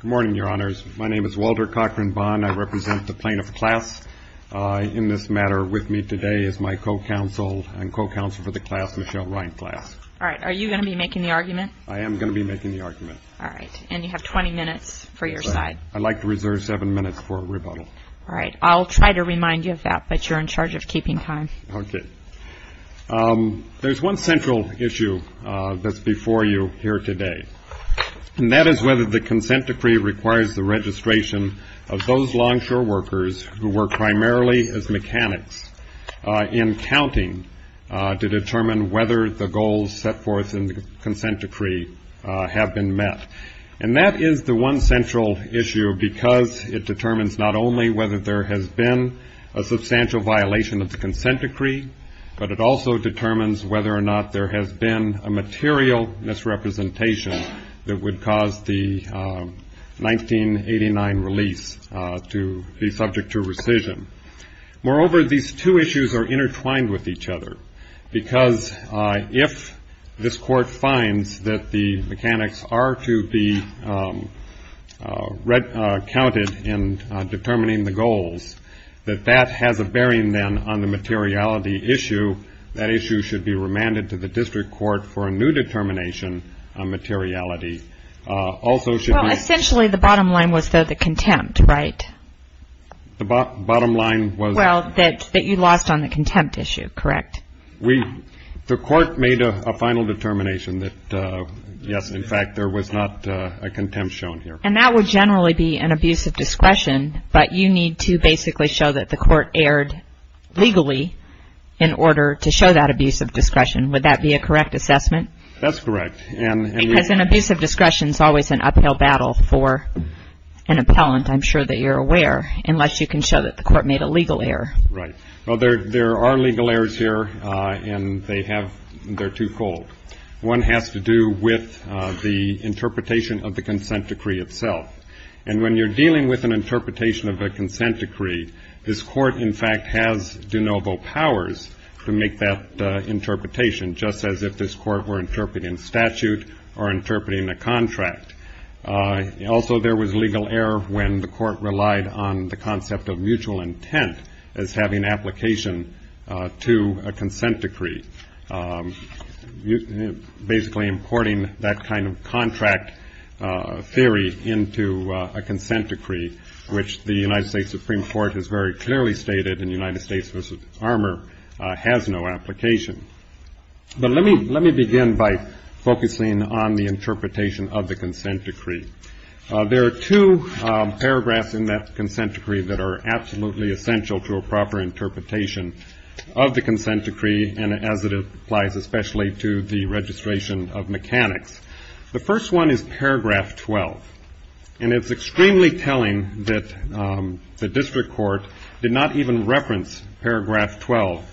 Good morning, your honors. My name is Walter Cochran Bond. I represent the plaintiff class. In this matter, with me today is my co-counsel and co-counsel for the class, Michelle Ryan class. All right. Are you going to be making the argument? I am going to be making the argument. All right. And you have 20 minutes for your side. I'd like to reserve seven minutes for a rebuttal. All right. I'll try to remind you of that, but you're in charge of keeping time. Okay. There's one central issue that's before you here today, and that is whether the consent decree requires the registration of those longshore workers who work primarily as mechanics in counting to determine whether the goals set forth in the consent decree have been met. And that is the one central issue because it determines not only whether there has been a substantial violation of the consent decree, but it also determines whether or not there has been a material misrepresentation that would cause the 1989 release to be subject to rescission. Moreover, these two issues are intertwined with each other because if this court finds that the mechanics are to be counted in determining the goals, that that has a bearing then on the materiality issue, that issue should be remanded to the district court for a new determination on materiality. Well, essentially the bottom line was the contempt, right? The bottom line was... Well, that you lost on the contempt issue, correct? The court made a final determination that yes, in fact, there was not a contempt shown here. And that would generally be an abuse of discretion, but you need to basically show that the court erred legally in order to show that abuse of discretion. Would that be a correct assessment? That's correct. Because an abuse of discretion is always an uphill battle for an appellant, I'm sure that you're aware, unless you can show that the court made a legal error. Right. Well, there are legal errors here, and they're too cold. One has to do with the interpretation of the consent decree itself. And when you're dealing with an interpretation of a consent decree, this court, in fact, has de novo powers to make that interpretation, just as if this court were interpreting statute or interpreting a contract. Also, there was legal error when the court relied on the concept of mutual intent as having application to a consent decree. Basically, importing that kind of contract theory into a consent decree, which the United States Supreme Court has very clearly stated in United States v. Armour, has no application. But let me begin by focusing on the interpretation of the consent decree. There are two paragraphs in that consent decree that are absolutely essential to a proper interpretation of the consent decree, and as it applies especially to the registration of mechanics. The first one is paragraph 12. And it's extremely telling that the district court did not even reference paragraph 12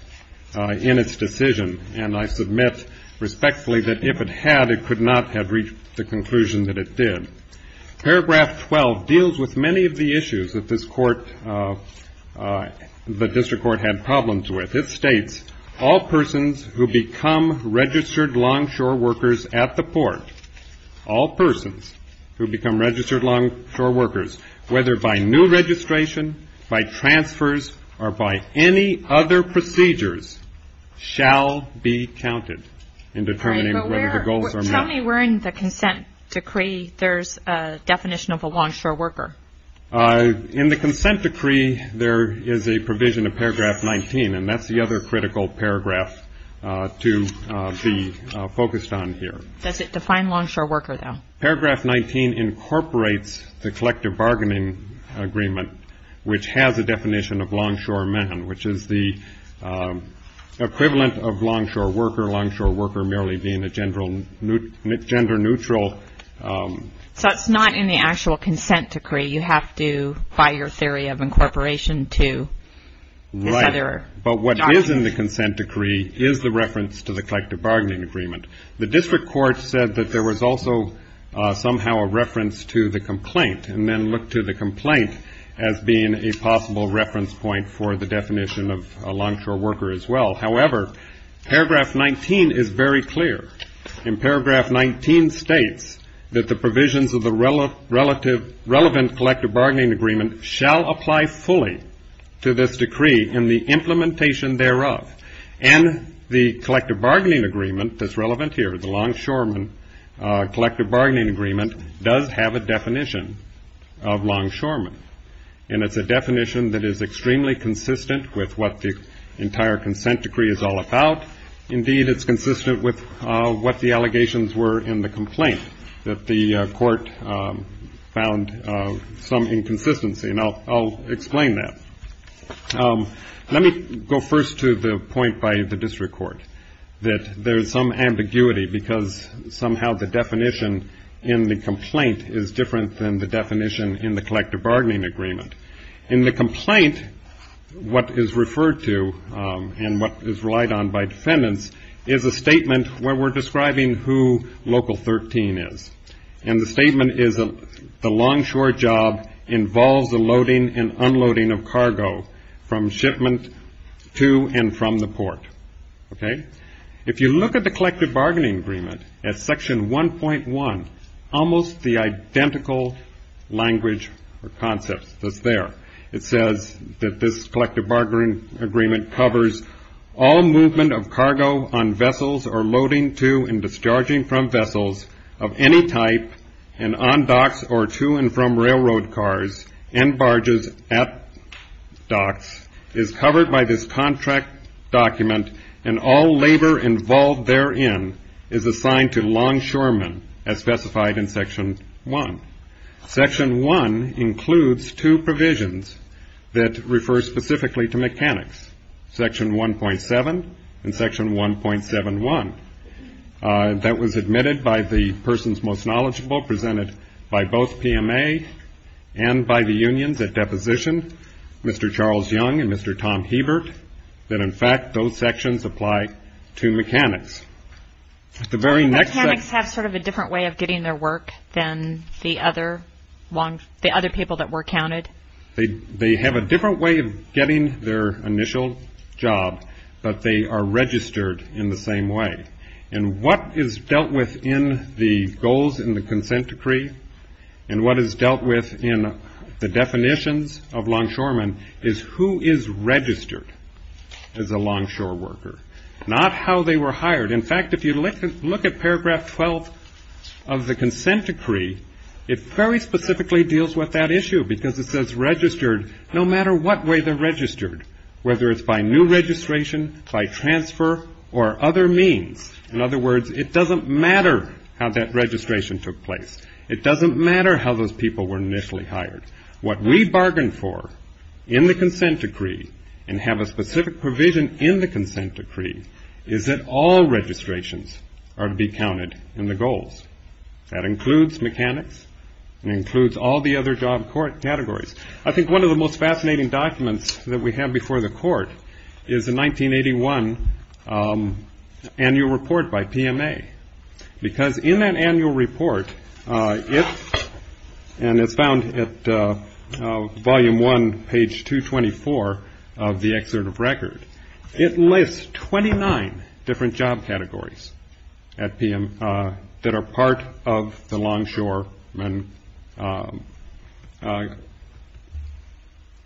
in its decision. And I submit respectfully that if it had, it could not have reached the conclusion that it did. Paragraph 12 deals with many of the issues that this court, the district court, had problems with. It states, all persons who become registered longshore workers at the port, all persons who become registered longshore workers, whether by new registration, by transfers, or by any other procedures, shall be counted in determining whether the goals are met. Tell me where in the consent decree there's a definition of a longshore worker. In the consent decree, there is a provision of paragraph 19, and that's the other critical paragraph to be focused on here. Does it define longshore worker, though? Paragraph 19 incorporates the collective bargaining agreement, which has a definition of longshore man, which is the equivalent of longshore worker, longshore worker merely being a gender neutral. So it's not in the actual consent decree. You have to, by your theory of incorporation, to this other document. Right. But what is in the consent decree is the reference to the collective bargaining agreement. The district court said that there was also somehow a reference to the complaint, and then looked to the complaint as being a possible reference point for the definition of a longshore worker as well. However, paragraph 19 is very clear. In paragraph 19 states that the provisions of the relevant collective bargaining agreement shall apply fully to this decree in the implementation thereof. And the collective bargaining agreement that's relevant here, the longshoreman collective bargaining agreement, does have a definition of longshoreman. And it's a definition that is extremely consistent with what the entire consent decree is all about. Indeed, it's consistent with what the allegations were in the complaint that the court found some inconsistency. And I'll explain that. Let me go first to the point by the district court that there is some ambiguity because somehow the definition in the complaint is different than the definition in the collective bargaining agreement. In the complaint, what is referred to and what is relied on by defendants is a statement where we're describing who Local 13 is. And the statement is the longshore job involves the loading and unloading of cargo from shipment to and from the port. Okay? If you look at the collective bargaining agreement at section 1.1, almost the identical language or concept that's there, it says that this collective bargaining agreement covers all movement of cargo on vessels or loading to and discharging from vessels of any type and on docks or to and from railroad cars and barges at docks is covered by this contract document and all labor involved therein is assigned to longshoremen as specified in section 1. Section 1 includes two provisions that refer specifically to mechanics, section 1.7 and section 1.71. That was admitted by the persons most knowledgeable presented by both PMA and by the unions at deposition, Mr. Charles Young and Mr. Tom Hebert, that in fact those sections apply to mechanics. Mechanics have sort of a different way of getting their work than the other people that were counted. They have a different way of getting their initial job, but they are registered in the same way. And what is dealt with in the goals in the consent decree and what is dealt with in the definitions of longshoremen is who is registered as a longshore worker, not how they were hired. In fact, if you look at paragraph 12 of the consent decree, it very specifically deals with that issue because it says registered no matter what way they're registered, whether it's by new registration, by transfer or other means. In other words, it doesn't matter how that registration took place. It doesn't matter how those people were initially hired. What we bargained for in the consent decree and have a specific provision in the consent decree is that all registrations are to be counted in the goals. That includes mechanics. It includes all the other job categories. I think one of the most fascinating documents that we have before the court is the 1981 annual report by PMA because in that annual report, and it's found at volume one, page 224 of the excerpt of record, it lists 29 different job categories at PMA that are part of the longshoremen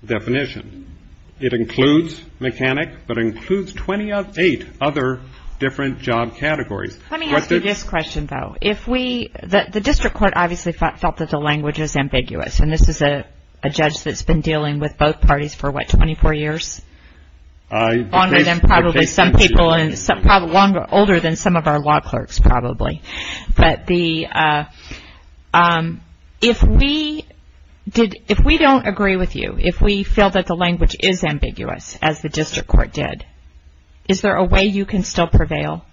definition. It includes mechanic, but it includes 28 other different job categories. Let me ask you this question, though. The district court obviously felt that the language is ambiguous, and this is a judge that's been dealing with both parties for, what, 24 years? Longer than probably some people, older than some of our law clerks probably. But if we don't agree with you, if we feel that the language is ambiguous, as the district court did, is there a way you can still prevail?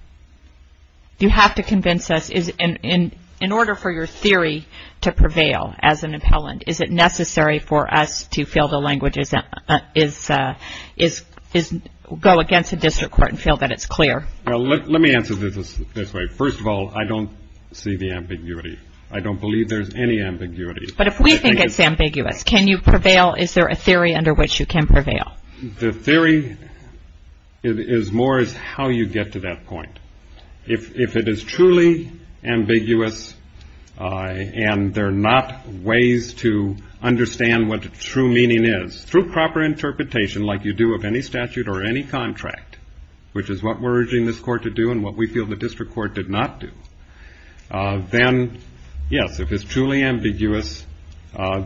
You have to convince us, in order for your theory to prevail as an appellant, is it necessary for us to feel the language is, go against the district court and feel that it's clear? Well, let me answer this this way. First of all, I don't see the ambiguity. I don't believe there's any ambiguity. But if we think it's ambiguous, can you prevail? Is there a theory under which you can prevail? The theory is more as how you get to that point. If it is truly ambiguous and there are not ways to understand what the true meaning is, through proper interpretation like you do of any statute or any contract, which is what we're urging this court to do and what we feel the district court did not do, then, yes, if it's truly ambiguous,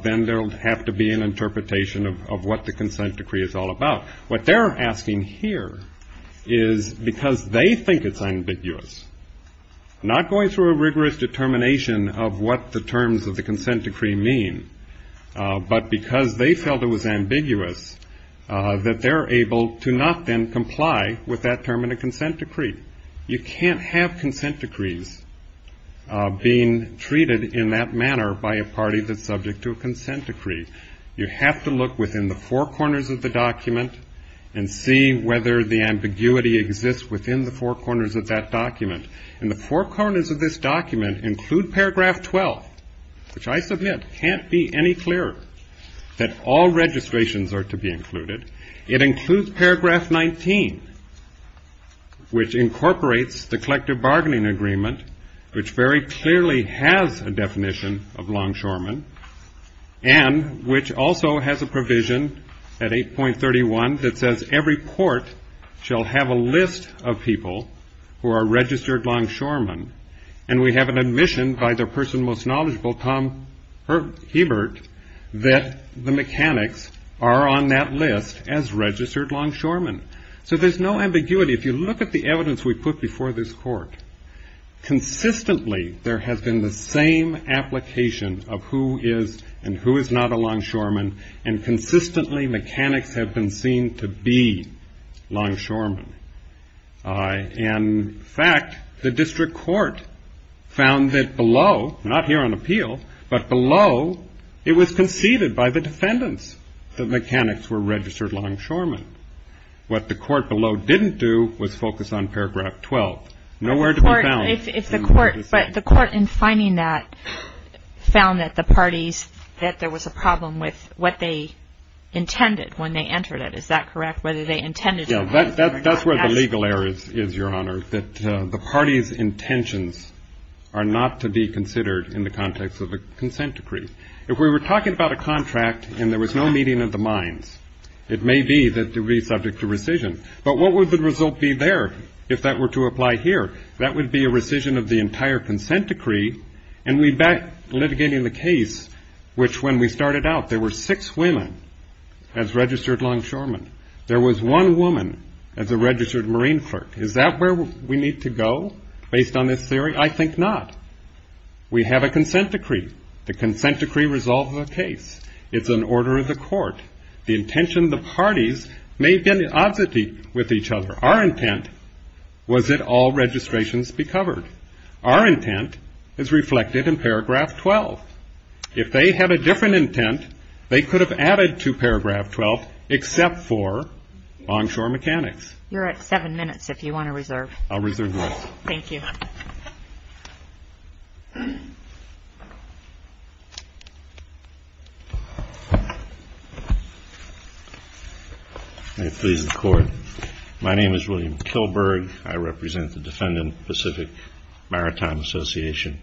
then there will have to be an interpretation of what the consent decree is all about. What they're asking here is, because they think it's ambiguous, not going through a rigorous determination of what the terms of the consent decree mean, but because they felt it was ambiguous, that they're able to not then comply with that term in a consent decree. You can't have consent decrees being treated in that manner by a party that's subject to a consent decree. You have to look within the four corners of the document and see whether the ambiguity exists within the four corners of that document. And the four corners of this document include paragraph 12, which I submit can't be any clearer, that all registrations are to be included. It includes paragraph 19, which incorporates the collective bargaining agreement, which very clearly has a definition of longshoremen, and which also has a provision at 8.31 that says every port shall have a list of people who are registered longshoremen. And we have an admission by the person most knowledgeable, Tom Hebert, that the mechanics are on that list as registered longshoremen. So there's no ambiguity. If you look at the evidence we put before this court, consistently there has been the same application of who is and who is not a longshoreman, and consistently mechanics have been seen to be longshoremen. In fact, the district court found that below, not here on appeal, but below it was conceded by the defendants that mechanics were registered longshoremen. What the court below didn't do was focus on paragraph 12. Nowhere to be found. But the court in finding that found that the parties, that there was a problem with what they intended when they entered it. Is that correct? Yeah, that's where the legal error is, Your Honor, that the party's intentions are not to be considered in the context of a consent decree. If we were talking about a contract and there was no meeting of the minds, it may be that it would be subject to rescission. But what would the result be there if that were to apply here? That would be a rescission of the entire consent decree, and we'd be litigating the case which when we started out there were six women as registered longshoremen. There was one woman as a registered marine clerk. Is that where we need to go based on this theory? I think not. We have a consent decree. The consent decree resolves the case. It's an order of the court. The intention of the parties may have been an oddity with each other. Our intent was that all registrations be covered. Our intent is reflected in paragraph 12. If they had a different intent, they could have added to paragraph 12 except for onshore mechanics. You're at seven minutes if you want to reserve. I'll reserve this. Thank you. May it please the Court. My name is William Kilberg. I represent the Defendant Pacific Maritime Association.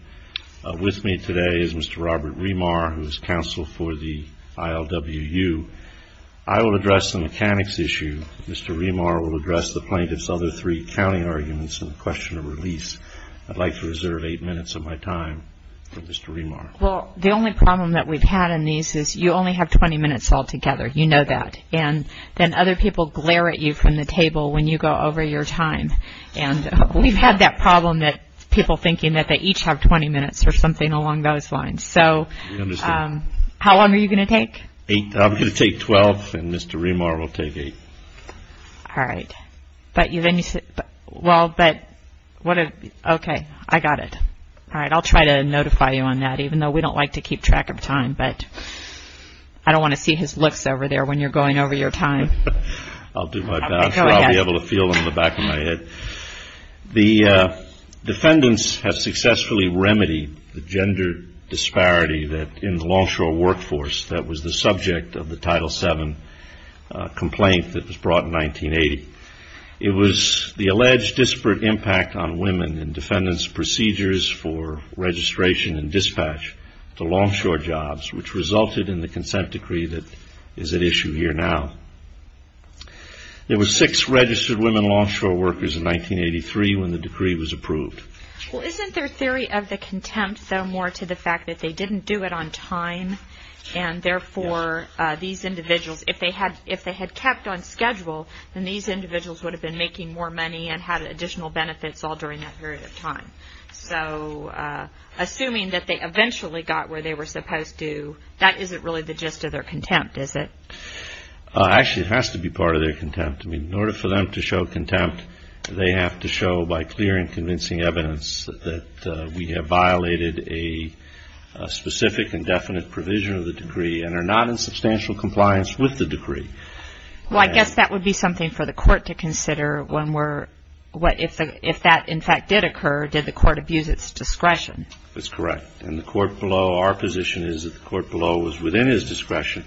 With me today is Mr. Robert Remar, who is counsel for the ILWU. I will address the mechanics issue. Mr. Remar will address the plaintiff's other three counting arguments and the question of release. I'd like to reserve eight minutes of my time for Mr. Remar. Well, the only problem that we've had in these is you only have 20 minutes altogether. You know that. And then other people glare at you from the table when you go over your time. We've had that problem that people thinking that they each have 20 minutes or something along those lines. So how long are you going to take? I'm going to take 12, and Mr. Remar will take eight. All right. Okay, I got it. I'll try to notify you on that, even though we don't like to keep track of time. But I don't want to see his looks over there when you're going over your time. I'll do my best. I'll be able to feel them in the back of my head. The defendants have successfully remedied the gender disparity in the Longshore workforce that was the subject of the Title VII complaint that was brought in 1980. It was the alleged disparate impact on women in defendants' procedures for registration and dispatch to Longshore jobs, which resulted in the consent decree that is at issue here now. There were six registered women Longshore workers in 1983 when the decree was approved. Well, isn't their theory of the contempt, though, more to the fact that they didn't do it on time, and therefore these individuals, if they had kept on schedule, then these individuals would have been making more money and had additional benefits all during that period of time. So assuming that they eventually got where they were supposed to, that isn't really the gist of their contempt, is it? Actually, it has to be part of their contempt. I mean, in order for them to show contempt, they have to show by clear and convincing evidence that we have violated a specific and definite provision of the decree and are not in substantial compliance with the decree. Well, I guess that would be something for the court to consider if that, in fact, did occur. Did the court abuse its discretion? That's correct. And the court below, our position is that the court below was within its discretion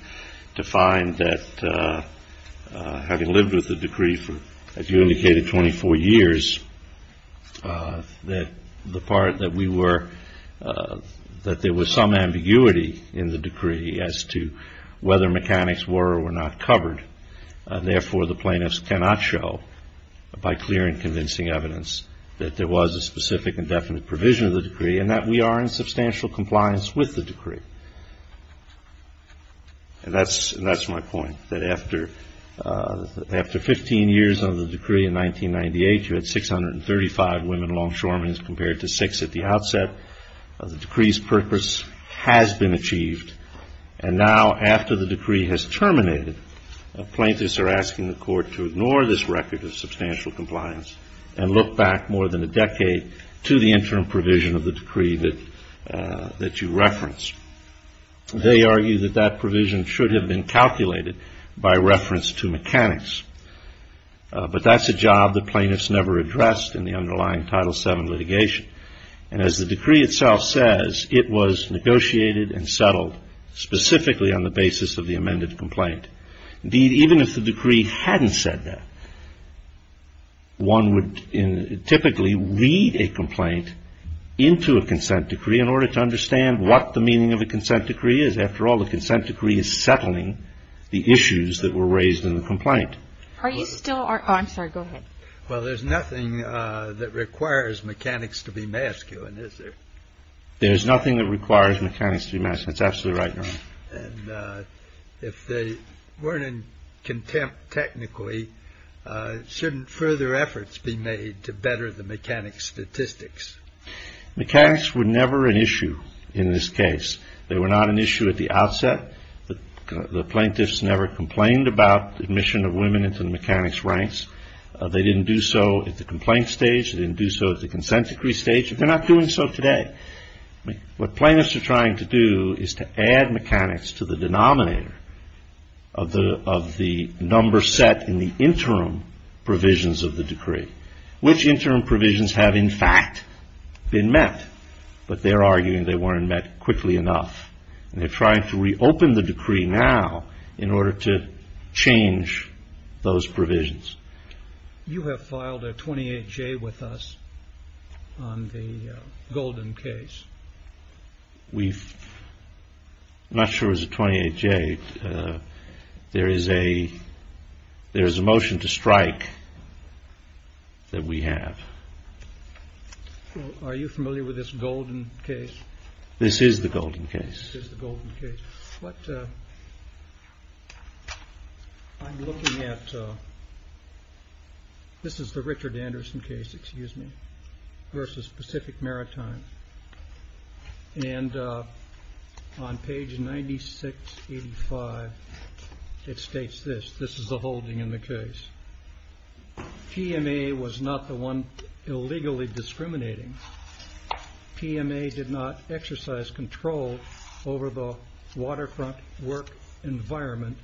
to find that, having lived with the decree for, as you indicated, 24 years, that the part that we were, that there was some ambiguity in the decree as to whether mechanics were or were not covered. Therefore, the plaintiffs cannot show, by clear and convincing evidence, that there was a specific and definite provision of the decree and that we are in substantial compliance with the decree. And that's my point, that after 15 years of the decree in 1998, you had 635 women longshoremen as compared to six at the outset. The decree's purpose has been achieved. And now, after the decree has terminated, plaintiffs are asking the court to ignore this record of substantial compliance and look back more than a decade to the interim provision of the decree that you referenced. They argue that that provision should have been calculated by reference to mechanics. But that's a job that plaintiffs never addressed in the underlying Title VII litigation. And as the decree itself says, it was negotiated and settled specifically on the basis of the amended complaint. Indeed, even if the decree hadn't said that, one would typically read a complaint into a consent decree in order to understand what the meaning of a consent decree is. After all, the consent decree is settling the issues that were raised in the complaint. Are you still, I'm sorry, go ahead. Well, there's nothing that requires mechanics to be masculine, is there? There's nothing that requires mechanics to be masculine. That's absolutely right, Your Honor. And if they weren't in contempt technically, shouldn't further efforts be made to better the mechanics statistics? Mechanics were never an issue in this case. They were not an issue at the outset. The plaintiffs never complained about admission of women into the mechanics ranks. They didn't do so at the complaint stage. They didn't do so at the consent decree stage. They're not doing so today. What plaintiffs are trying to do is to add mechanics to the denominator of the number set in the interim provisions of the decree. Which interim provisions have, in fact, been met. But they're arguing they weren't met quickly enough. And they're trying to reopen the decree now in order to change those provisions. You have filed a 28-J with us on the Golden case. I'm not sure it was a 28-J. There is a motion to strike that we have. Are you familiar with this Golden case? This is the Golden case. This is the Golden case. What I'm looking at, this is the Richard Anderson case versus Pacific Maritime. And on page 9685, it states this. This is the holding in the case. PMA was not the one illegally discriminating. PMA did not exercise control over the waterfront work environment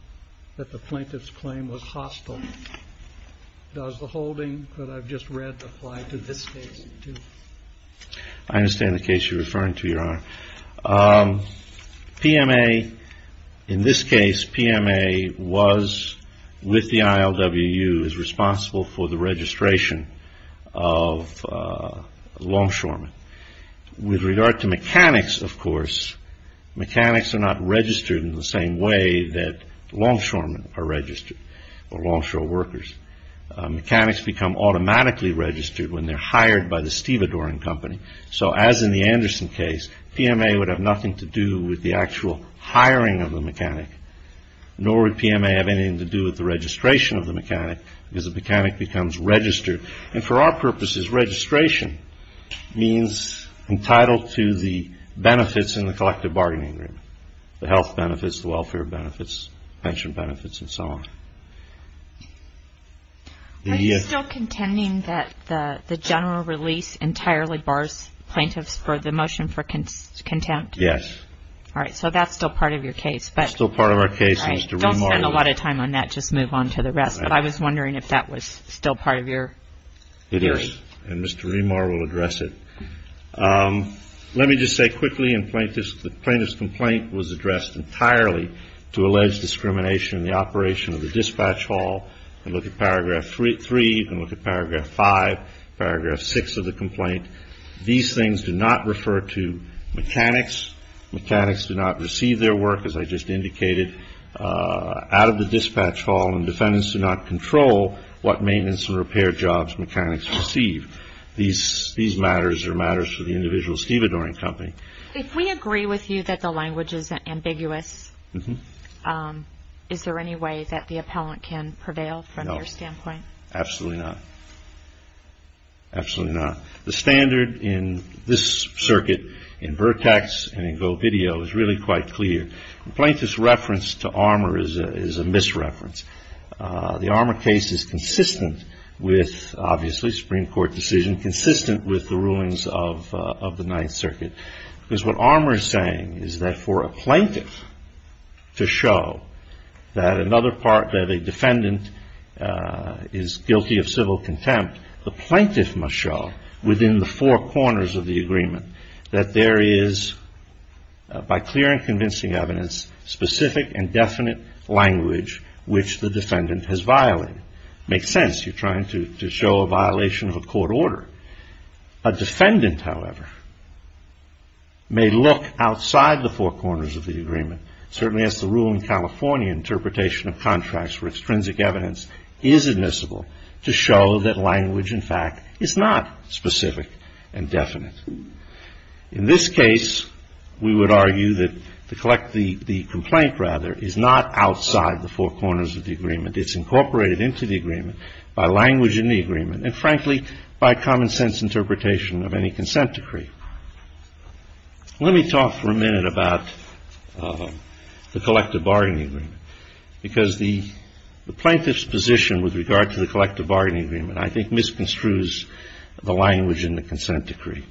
that the plaintiffs claimed was hostile. Does the holding that I've just read apply to this case, too? I understand the case you're referring to, Your Honor. PMA, in this case, PMA was, with the ILWU, is responsible for the registration of longshoremen. With regard to mechanics, of course, mechanics are not registered in the same way that longshoremen are registered, or longshore workers. Mechanics become automatically registered when they're hired by the stevedoring company. So as in the Anderson case, PMA would have nothing to do with the actual hiring of the mechanic, nor would PMA have anything to do with the registration of the mechanic, because the mechanic becomes registered. And for our purposes, registration means entitled to the benefits in the collective bargaining agreement, the health benefits, the welfare benefits, pension benefits, and so on. Are you still contending that the general release entirely bars plaintiffs for the motion for contempt? Yes. All right. So that's still part of your case. That's still part of our case, Mr. Remar. Don't spend a lot of time on that. Just move on to the rest. But I was wondering if that was still part of your hearing. It is. And Mr. Remar will address it. Let me just say quickly, the plaintiff's complaint was addressed entirely to alleged discrimination in the operation of the dispatch hall. You can look at Paragraph 3. You can look at Paragraph 5, Paragraph 6 of the complaint. These things do not refer to mechanics. Mechanics do not receive their work, as I just indicated, out of the dispatch hall, and defendants do not control what maintenance and repair jobs mechanics receive. These matters are matters for the individual stevedoring company. If we agree with you that the language is ambiguous, is there any way that the appellant can prevail from your standpoint? No. Absolutely not. Absolutely not. The standard in this circuit, in Vertex and in GoVideo, is really quite clear. The plaintiff's reference to armor is a misreference. The armor case is consistent with, obviously, Supreme Court decision, consistent with the rulings of the Ninth Circuit, because what armor is saying is that for a plaintiff to show that another part of a defendant is guilty of civil contempt, the plaintiff must show within the four corners of the agreement that there is, by clear and convincing evidence, specific and definite language which the defendant has violated. It makes sense. You're trying to show a violation of a court order. A defendant, however, may look outside the four corners of the agreement, certainly as the rule in California interpretation of contracts where extrinsic evidence is admissible, to show that language, in fact, is not specific and definite. In this case, we would argue that the complaint, rather, is not outside the four corners of the agreement. It's incorporated into the agreement by language in the agreement and, frankly, by common sense interpretation of any consent decree. Let me talk for a minute about the collective bargaining agreement, because the plaintiff's position with regard to the collective bargaining agreement, I think, misconstrues the language in the consent decree.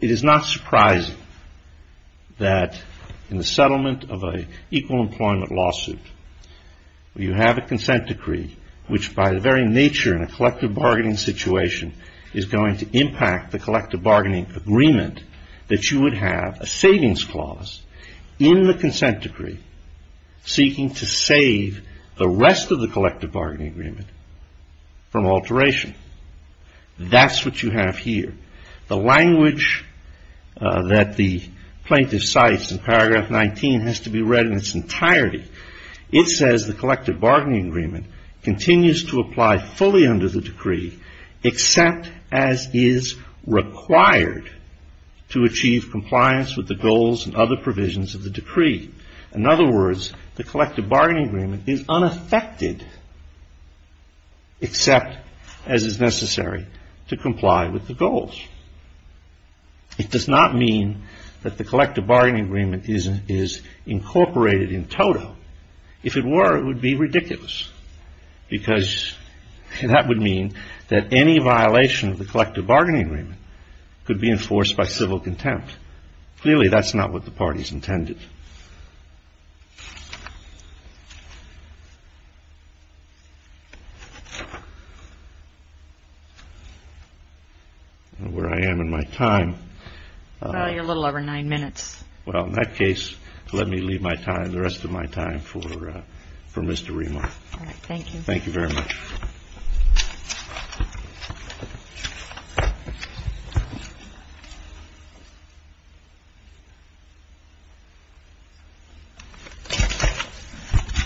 It is not surprising that in the settlement of an equal employment lawsuit, you have a consent decree which, by the very nature in a collective bargaining situation, is going to impact the collective bargaining agreement that you would have a savings clause in the consent decree seeking to save the rest of the collective bargaining agreement from alteration. That's what you have here. The language that the plaintiff cites in paragraph 19 has to be read in its entirety. It says the collective bargaining agreement continues to apply fully under the decree, except as is required to achieve compliance with the goals and other provisions of the decree. In other words, the collective bargaining agreement is unaffected, except as is necessary to comply with the goals. It does not mean that the collective bargaining agreement is incorporated in toto. If it were, it would be ridiculous, because that would mean that any violation of the collective bargaining agreement could be enforced by civil contempt. Clearly, that's not what the parties intended. Where I am in my time. Well, you're a little over nine minutes. Well, in that case, let me leave my time, the rest of my time, for Mr. Remar. All right. Thank you. Thank you very much.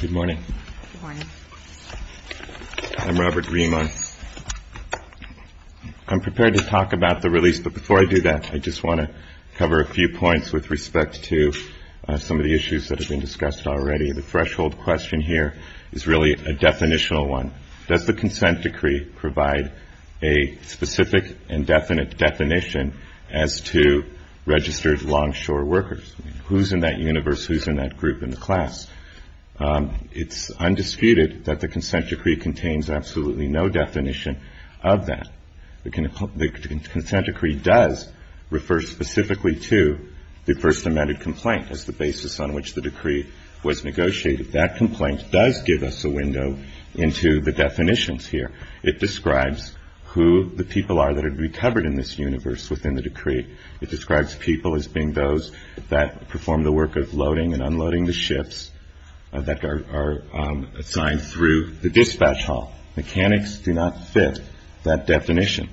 Good morning. Good morning. I'm Robert Remar. I'm prepared to talk about the release, but before I do that, I just want to cover a few points with respect to some of the issues that have been discussed already. The threshold question here is really a definitional one. Does the consent decree provide a specific and definite definition as to registered longshore workers? Who's in that universe? Who's in that group in the class? It's undisputed that the consent decree contains absolutely no definition of that. The consent decree does refer specifically to the first amended complaint as the basis on which the decree was negotiated. That complaint does give us a window into the definitions here. It describes who the people are that are to be covered in this universe within the decree. It describes people as being those that perform the work of loading and unloading the ships that are assigned through the dispatch hall. Mechanics do not fit that definition.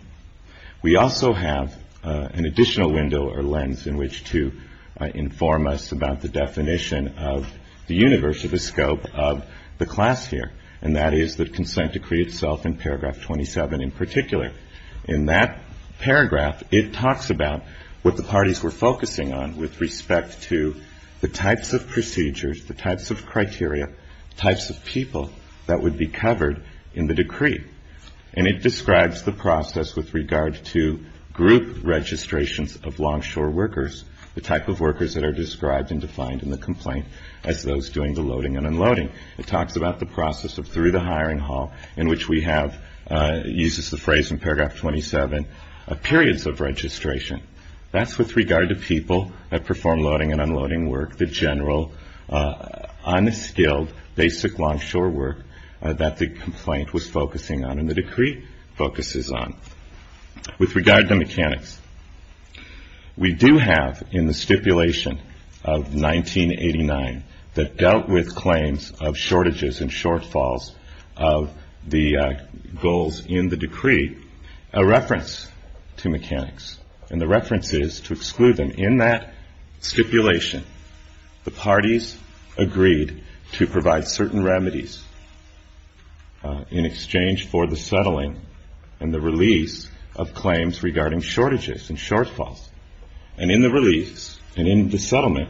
We also have an additional window or lens in which to inform us about the definition of the universe or the scope of the class here, and that is the consent decree itself in paragraph 27 in particular. In that paragraph, it talks about what the parties were focusing on with respect to the types of procedures, the types of criteria, types of people that would be covered in the decree. And it describes the process with regard to group registrations of longshore workers, the type of workers that are described and defined in the complaint as those doing the loading and unloading. It talks about the process of through the hiring hall in which we have, it uses the phrase in paragraph 27, periods of registration. That's with regard to people that perform loading and unloading work, the general unskilled basic longshore work that the complaint was focusing on and the decree focuses on. With regard to mechanics, we do have in the stipulation of 1989 that dealt with claims of shortages and shortfalls of the goals in the decree, a reference to mechanics. And the reference is to exclude them. In that stipulation, the parties agreed to provide certain remedies in exchange for the settling and the release of claims regarding shortages and shortfalls. And in the release and in the settlement,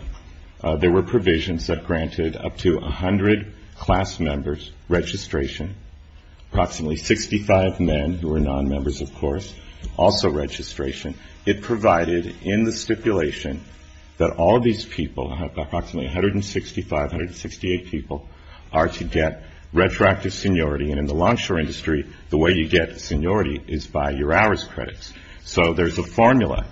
there were provisions that granted up to 100 class members registration, approximately 65 men who were non-members, of course, also registration. It provided in the stipulation that all these people, approximately 165, 168 people, are to get retroactive seniority. And in the longshore industry, the way you get seniority is by your hours credits. So there's a formula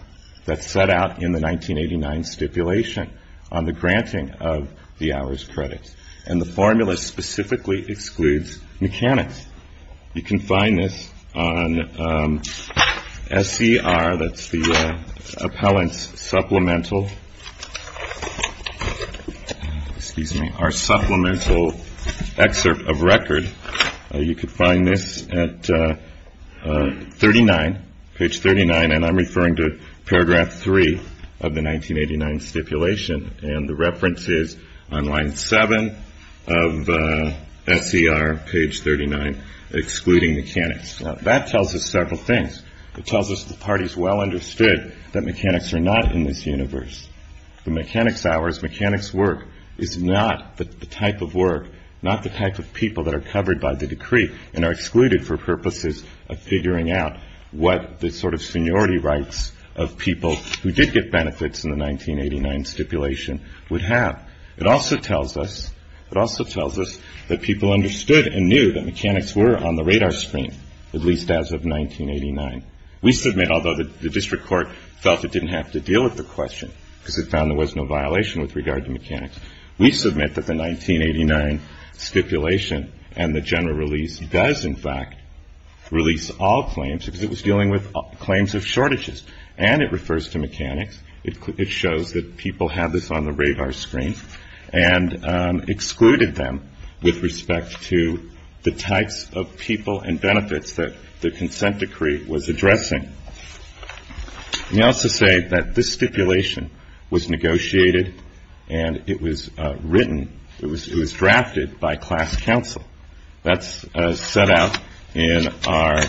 that's set out in the 1989 stipulation on the granting of the hours credits. And the formula specifically excludes mechanics. You can find this on SCR, that's the appellant's supplemental, excuse me, our supplemental excerpt of record. You can find this at 39, page 39, and I'm referring to paragraph 3 of the 1989 stipulation. And the reference is on line 7 of SCR, page 39, excluding mechanics. That tells us several things. It tells us the parties well understood that mechanics are not in this universe. The mechanics hours, mechanics work, is not the type of work, not the type of people that are covered by the decree and are excluded for purposes of figuring out what the sort of seniority rights of people who did get benefits in the 1989 stipulation would have. It also tells us that people understood and knew that mechanics were on the radar screen, at least as of 1989. We submit, although the district court felt it didn't have to deal with the question, because it found there was no violation with regard to mechanics, we submit that the 1989 stipulation and the general release does in fact release all claims because it was dealing with claims of shortages. And it refers to mechanics. It shows that people have this on the radar screen and excluded them with respect to the types of people and benefits that the consent decree was addressing. We also say that this stipulation was negotiated and it was written, it was drafted by class counsel. That's set out in our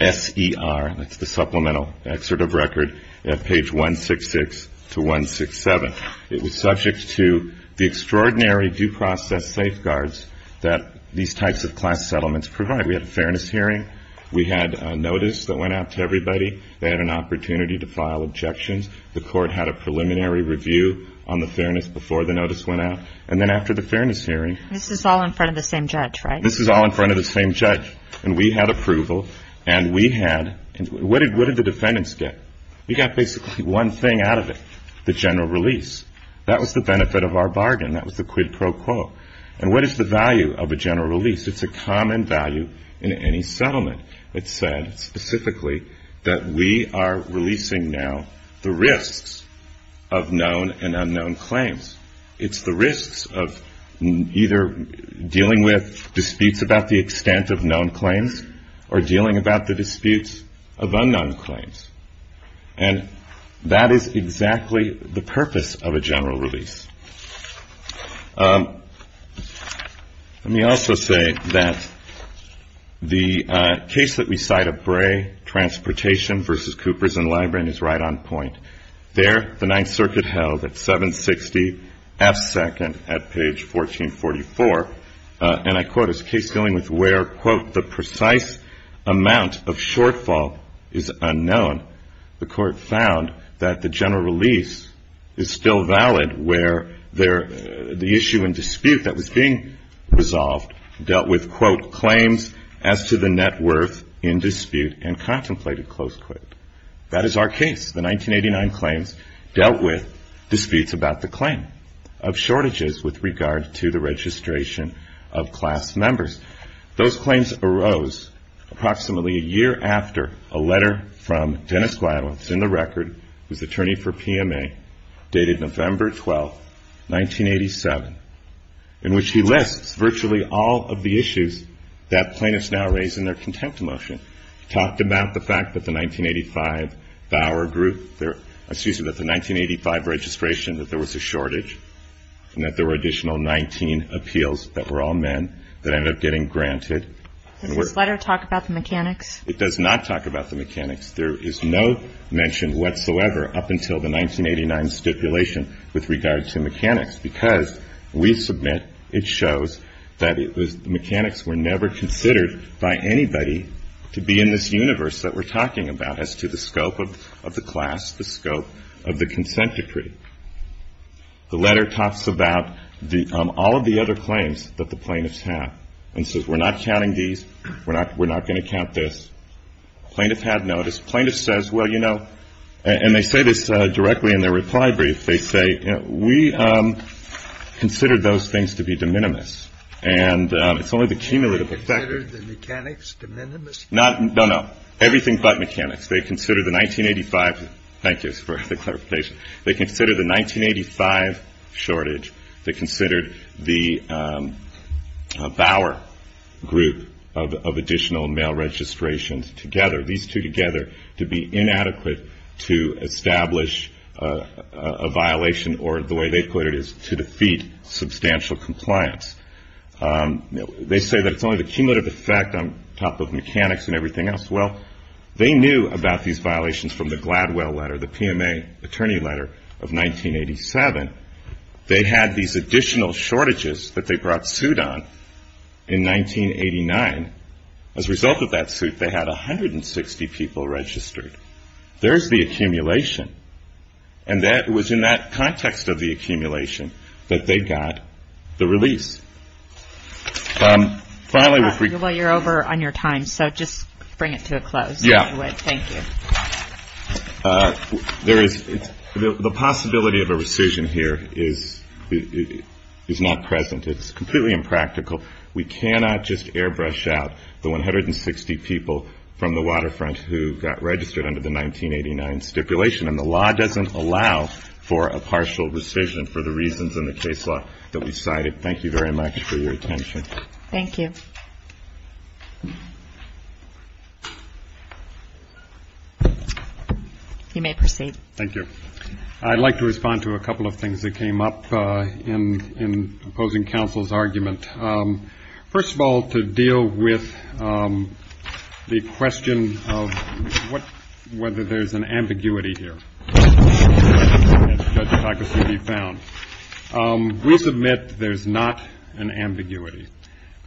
SCR, that's the Supplemental Excerpt of Record, at page 166 to 167. It was subject to the extraordinary due process safeguards that these types of class settlements provide. We had a fairness hearing. We had a notice that went out to everybody. They had an opportunity to file objections. The court had a preliminary review on the fairness before the notice went out. And then after the fairness hearing. This is all in front of the same judge, right? This is all in front of the same judge. And we had approval and we had – what did the defendants get? We got basically one thing out of it, the general release. That was the benefit of our bargain. That was the quid pro quo. And what is the value of a general release? It's a common value in any settlement. It said specifically that we are releasing now the risks of known and unknown claims. It's the risks of either dealing with disputes about the extent of known claims or dealing about the disputes of unknown claims. And that is exactly the purpose of a general release. Let me also say that the case that we cite at Bray, Transportation v. Coopers and Library, is right on point. There the Ninth Circuit held at 760 F. Second at page 1444. And I quote, it's a case dealing with where, quote, the precise amount of shortfall is unknown. The court found that the general release is still valid where the issue and dispute that was being resolved dealt with, quote, claims as to the net worth in dispute and contemplated, close quote. That is our case. The 1989 claims dealt with disputes about the claim of shortages with regard to the registration of class members. Those claims arose approximately a year after a letter from Dennis Gladwell, who's in the record, who's attorney for PMA, dated November 12, 1987, in which he lists virtually all of the issues that plaintiffs now raise in their contempt motion. He talked about the fact that the 1985 registration that there was a shortage and that there were additional 19 appeals that were all men that ended up getting granted. Does this letter talk about the mechanics? It does not talk about the mechanics. There is no mention whatsoever up until the 1989 stipulation with regard to mechanics because we submit it shows that the mechanics were never considered by anybody to be in this universe that we're talking about as to the scope of the class, the scope of the consent decree. The letter talks about all of the other claims that the plaintiffs have and says we're not counting these, we're not going to count this. Plaintiffs have notice. Plaintiffs says, well, you know, and they say this directly in their reply brief. They say, you know, we consider those things to be de minimis and it's only the cumulative effect. Do they consider the mechanics de minimis? No, no. Everything but mechanics. They consider the 1985, thank you for the clarification, they consider the 1985 shortage, they considered the Bauer group of additional male registrations together, these two together to be inadequate to establish a violation or the way they put it is to defeat substantial compliance. They say that it's only the cumulative effect on top of mechanics and everything else. Well, they knew about these violations from the Gladwell letter, the PMA attorney letter of 1987. They had these additional shortages that they brought suit on in 1989. As a result of that suit, they had 160 people registered. There's the accumulation. And that was in that context of the accumulation that they got the release. Finally, if we could. Well, you're over on your time, so just bring it to a close. Yeah. Thank you. There is the possibility of a rescission here is not present. It's completely impractical. We cannot just airbrush out the 160 people from the waterfront who got registered under the 1989 stipulation. And the law doesn't allow for a partial rescission for the reasons in the case law that we cited. Thank you very much for your attention. Thank you. You may proceed. Thank you. I'd like to respond to a couple of things that came up in opposing counsel's argument. First of all, to deal with the question of whether there's an ambiguity here. We submit there's not an ambiguity.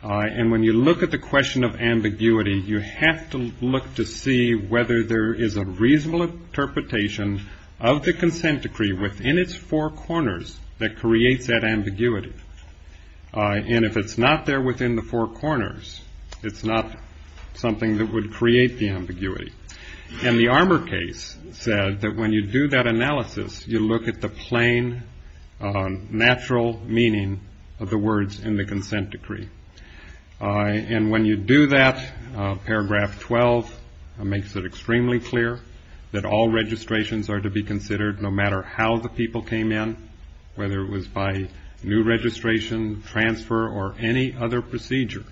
And when you look at the question of ambiguity, you have to look to see whether there is a reasonable interpretation of the consent decree within its four corners that creates that ambiguity. And if it's not there within the four corners, it's not something that would create the ambiguity. And the Armour case said that when you do that analysis, you look at the plain, natural meaning of the words in the consent decree. And when you do that, paragraph 12 makes it extremely clear that all registrations are to be considered no matter how the people came in, whether it was by new registration, transfer, or any other procedure,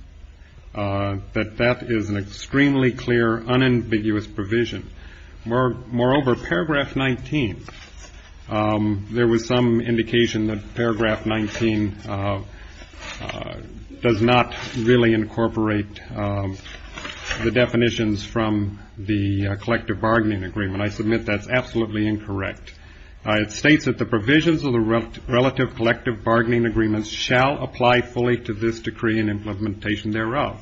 that that is an extremely clear, unambiguous provision. Moreover, paragraph 19, there was some indication that paragraph 19 does not really incorporate the definitions from the collective bargaining agreement. I submit that's absolutely incorrect. It states that the provisions of the relative collective bargaining agreements shall apply fully to this decree and implementation thereof,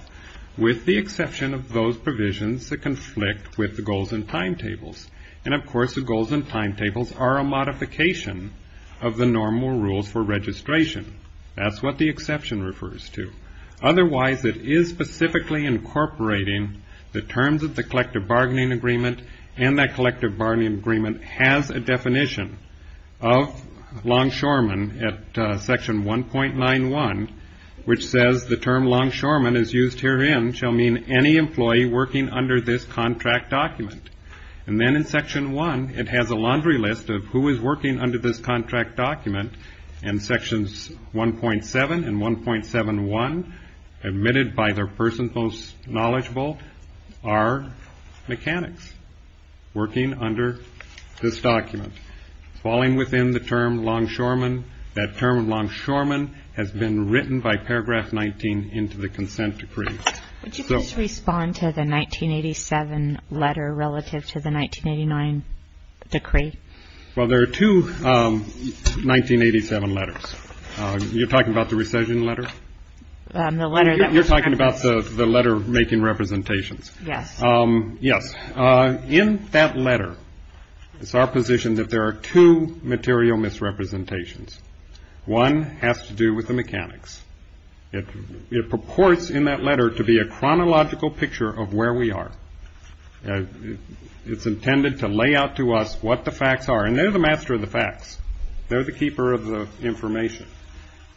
with the exception of those provisions that conflict with the goals and timetables. And, of course, the goals and timetables are a modification of the normal rules for registration. That's what the exception refers to. Otherwise, it is specifically incorporating the terms of the collective bargaining agreement, and that collective bargaining agreement has a definition of longshoremen at section 1.91, which says the term longshoremen, as used herein, shall mean any employee working under this contract document. And then in section 1, it has a laundry list of who is working under this contract document, and sections 1.7 and 1.71, admitted by the person most knowledgeable, are mechanics working under this document. Falling within the term longshoremen, that term longshoremen has been written by paragraph 19 into the consent decree. Would you please respond to the 1987 letter relative to the 1989 decree? Well, there are two 1987 letters. You're talking about the recession letter? You're talking about the letter making representations? Yes. Yes. In that letter, it's our position that there are two material misrepresentations. One has to do with the mechanics. It purports in that letter to be a chronological picture of where we are. It's intended to lay out to us what the facts are, and they're the master of the facts. They're the keeper of the information,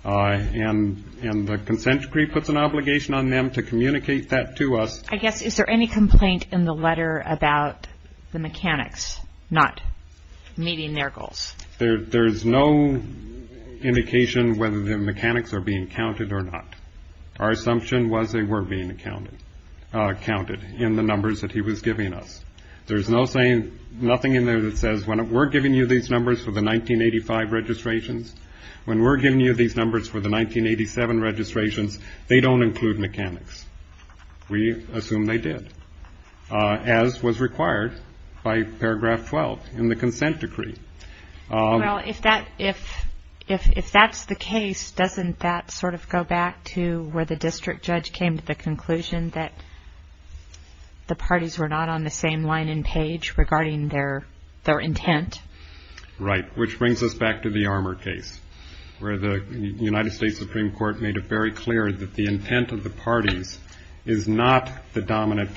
and the consent decree puts an obligation on them to communicate that to us. I guess, is there any complaint in the letter about the mechanics not meeting their goals? There's no indication whether the mechanics are being counted or not. Our assumption was they were being counted in the numbers that he was giving us. There's nothing in there that says we're giving you these numbers for the 1985 registrations. When we're giving you these numbers for the 1987 registrations, they don't include mechanics. We assume they did, as was required by paragraph 12 in the consent decree. Well, if that's the case, doesn't that sort of go back to where the district judge came to the conclusion that the parties were not on the same line and page regarding their intent? Right, which brings us back to the Armour case, where the United States Supreme Court made it very clear that the intent of the parties is not the dominant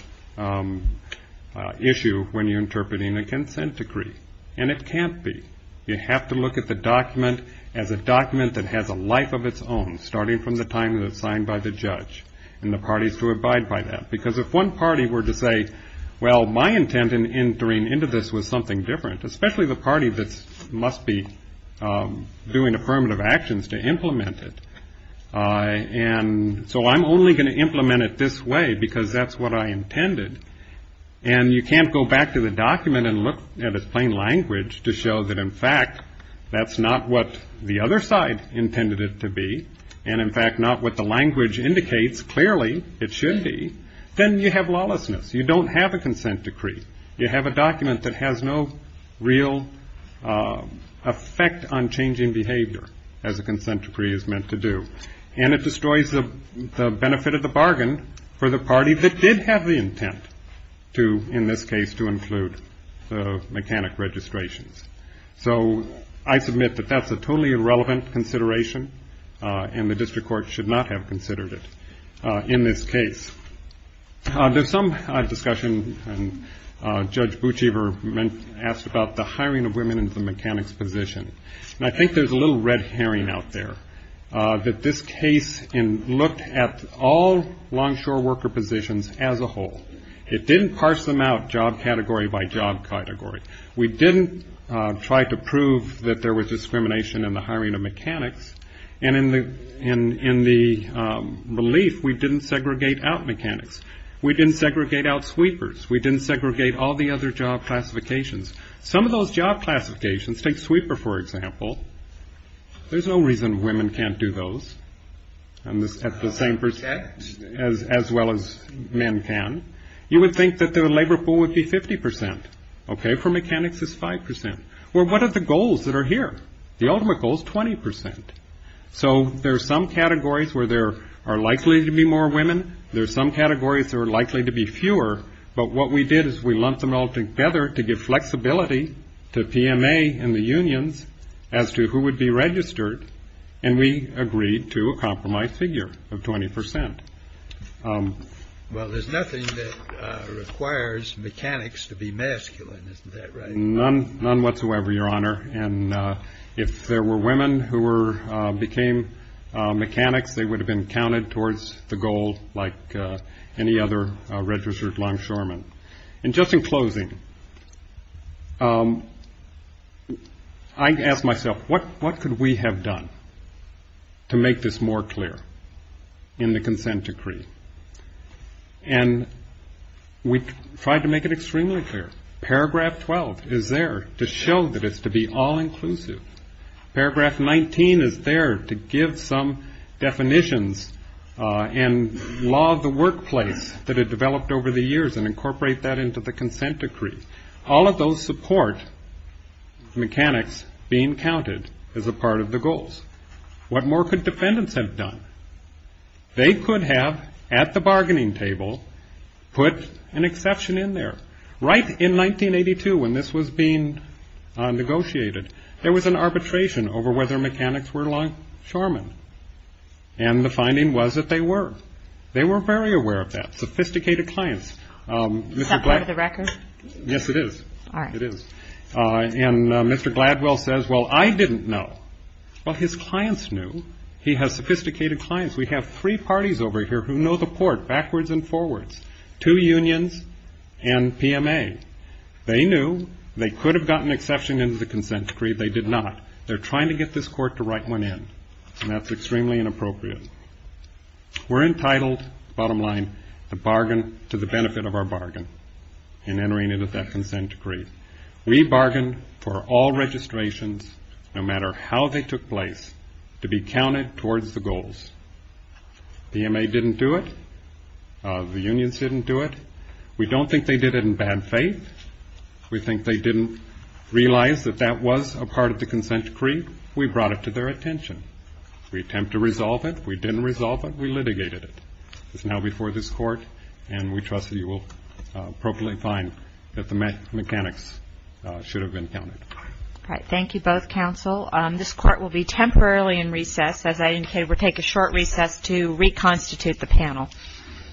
issue when you're interpreting a consent decree, and it can't be. You have to look at the document as a document that has a life of its own, starting from the time that it's signed by the judge, and the parties to abide by that, because if one party were to say, well, my intent in entering into this was something different, especially the party that must be doing affirmative actions to implement it. And so I'm only going to implement it this way because that's what I intended. And you can't go back to the document and look at its plain language to show that, in fact, that's not what the other side intended it to be, and in fact not what the language indicates clearly it should be. Then you have lawlessness. You don't have a consent decree. You have a document that has no real effect on changing behavior, as a consent decree is meant to do, and it destroys the benefit of the bargain for the party that did have the intent to, in this case, to include the mechanic registrations. So I submit that that's a totally irrelevant consideration, and the district court should not have considered it in this case. There's some discussion, and Judge Bouchever asked about the hiring of women into the mechanics position, and I think there's a little red herring out there that this case looked at all longshore worker positions as a whole. It didn't parse them out job category by job category. We didn't try to prove that there was discrimination in the hiring of mechanics, and in the relief we didn't segregate out mechanics. We didn't segregate out sweepers. We didn't segregate all the other job classifications. Some of those job classifications take sweeper, for example. There's no reason women can't do those at the same percent as well as men can. You would think that the labor pool would be 50 percent. Okay, for mechanics it's 5 percent. Well, what are the goals that are here? The ultimate goal is 20 percent. So there are some categories where there are likely to be more women. There are some categories that are likely to be fewer. But what we did is we lumped them all together to give flexibility to PMA and the unions as to who would be registered, and we agreed to a compromise figure of 20 percent. Well, there's nothing that requires mechanics to be masculine, isn't that right? None whatsoever, Your Honor, and if there were women who became mechanics, they would have been counted towards the goal like any other registered longshoreman. And just in closing, I ask myself, what could we have done to make this more clear in the consent decree? And we tried to make it extremely clear. Paragraph 12 is there to show that it's to be all-inclusive. Paragraph 19 is there to give some definitions and law of the workplace that had developed over the years and incorporate that into the consent decree. All of those support mechanics being counted as a part of the goals. What more could defendants have done? They could have, at the bargaining table, put an exception in there. Right in 1982 when this was being negotiated, there was an arbitration over whether mechanics were longshoremen, and the finding was that they were. They were very aware of that, sophisticated clients. Is that part of the record? Yes, it is. All right. It is. And Mr. Gladwell says, well, I didn't know. Well, his clients knew. He has sophisticated clients. We have three parties over here who know the court backwards and forwards, two unions and PMA. They knew they could have gotten an exception into the consent decree. They did not. They're trying to get this court to write one in, and that's extremely inappropriate. We're entitled, bottom line, to bargain to the benefit of our bargain in entering into that consent decree. We bargained for all registrations, no matter how they took place, to be counted towards the goals. PMA didn't do it. The unions didn't do it. We don't think they did it in bad faith. We think they didn't realize that that was a part of the consent decree. We brought it to their attention. We attempt to resolve it. We didn't resolve it. We litigated it. It's now before this court, and we trust that you will appropriately find that the mechanics should have been counted. All right. Thank you, both counsel. This court will be temporarily in recess. As I indicated, we'll take a short recess to reconstitute the panel.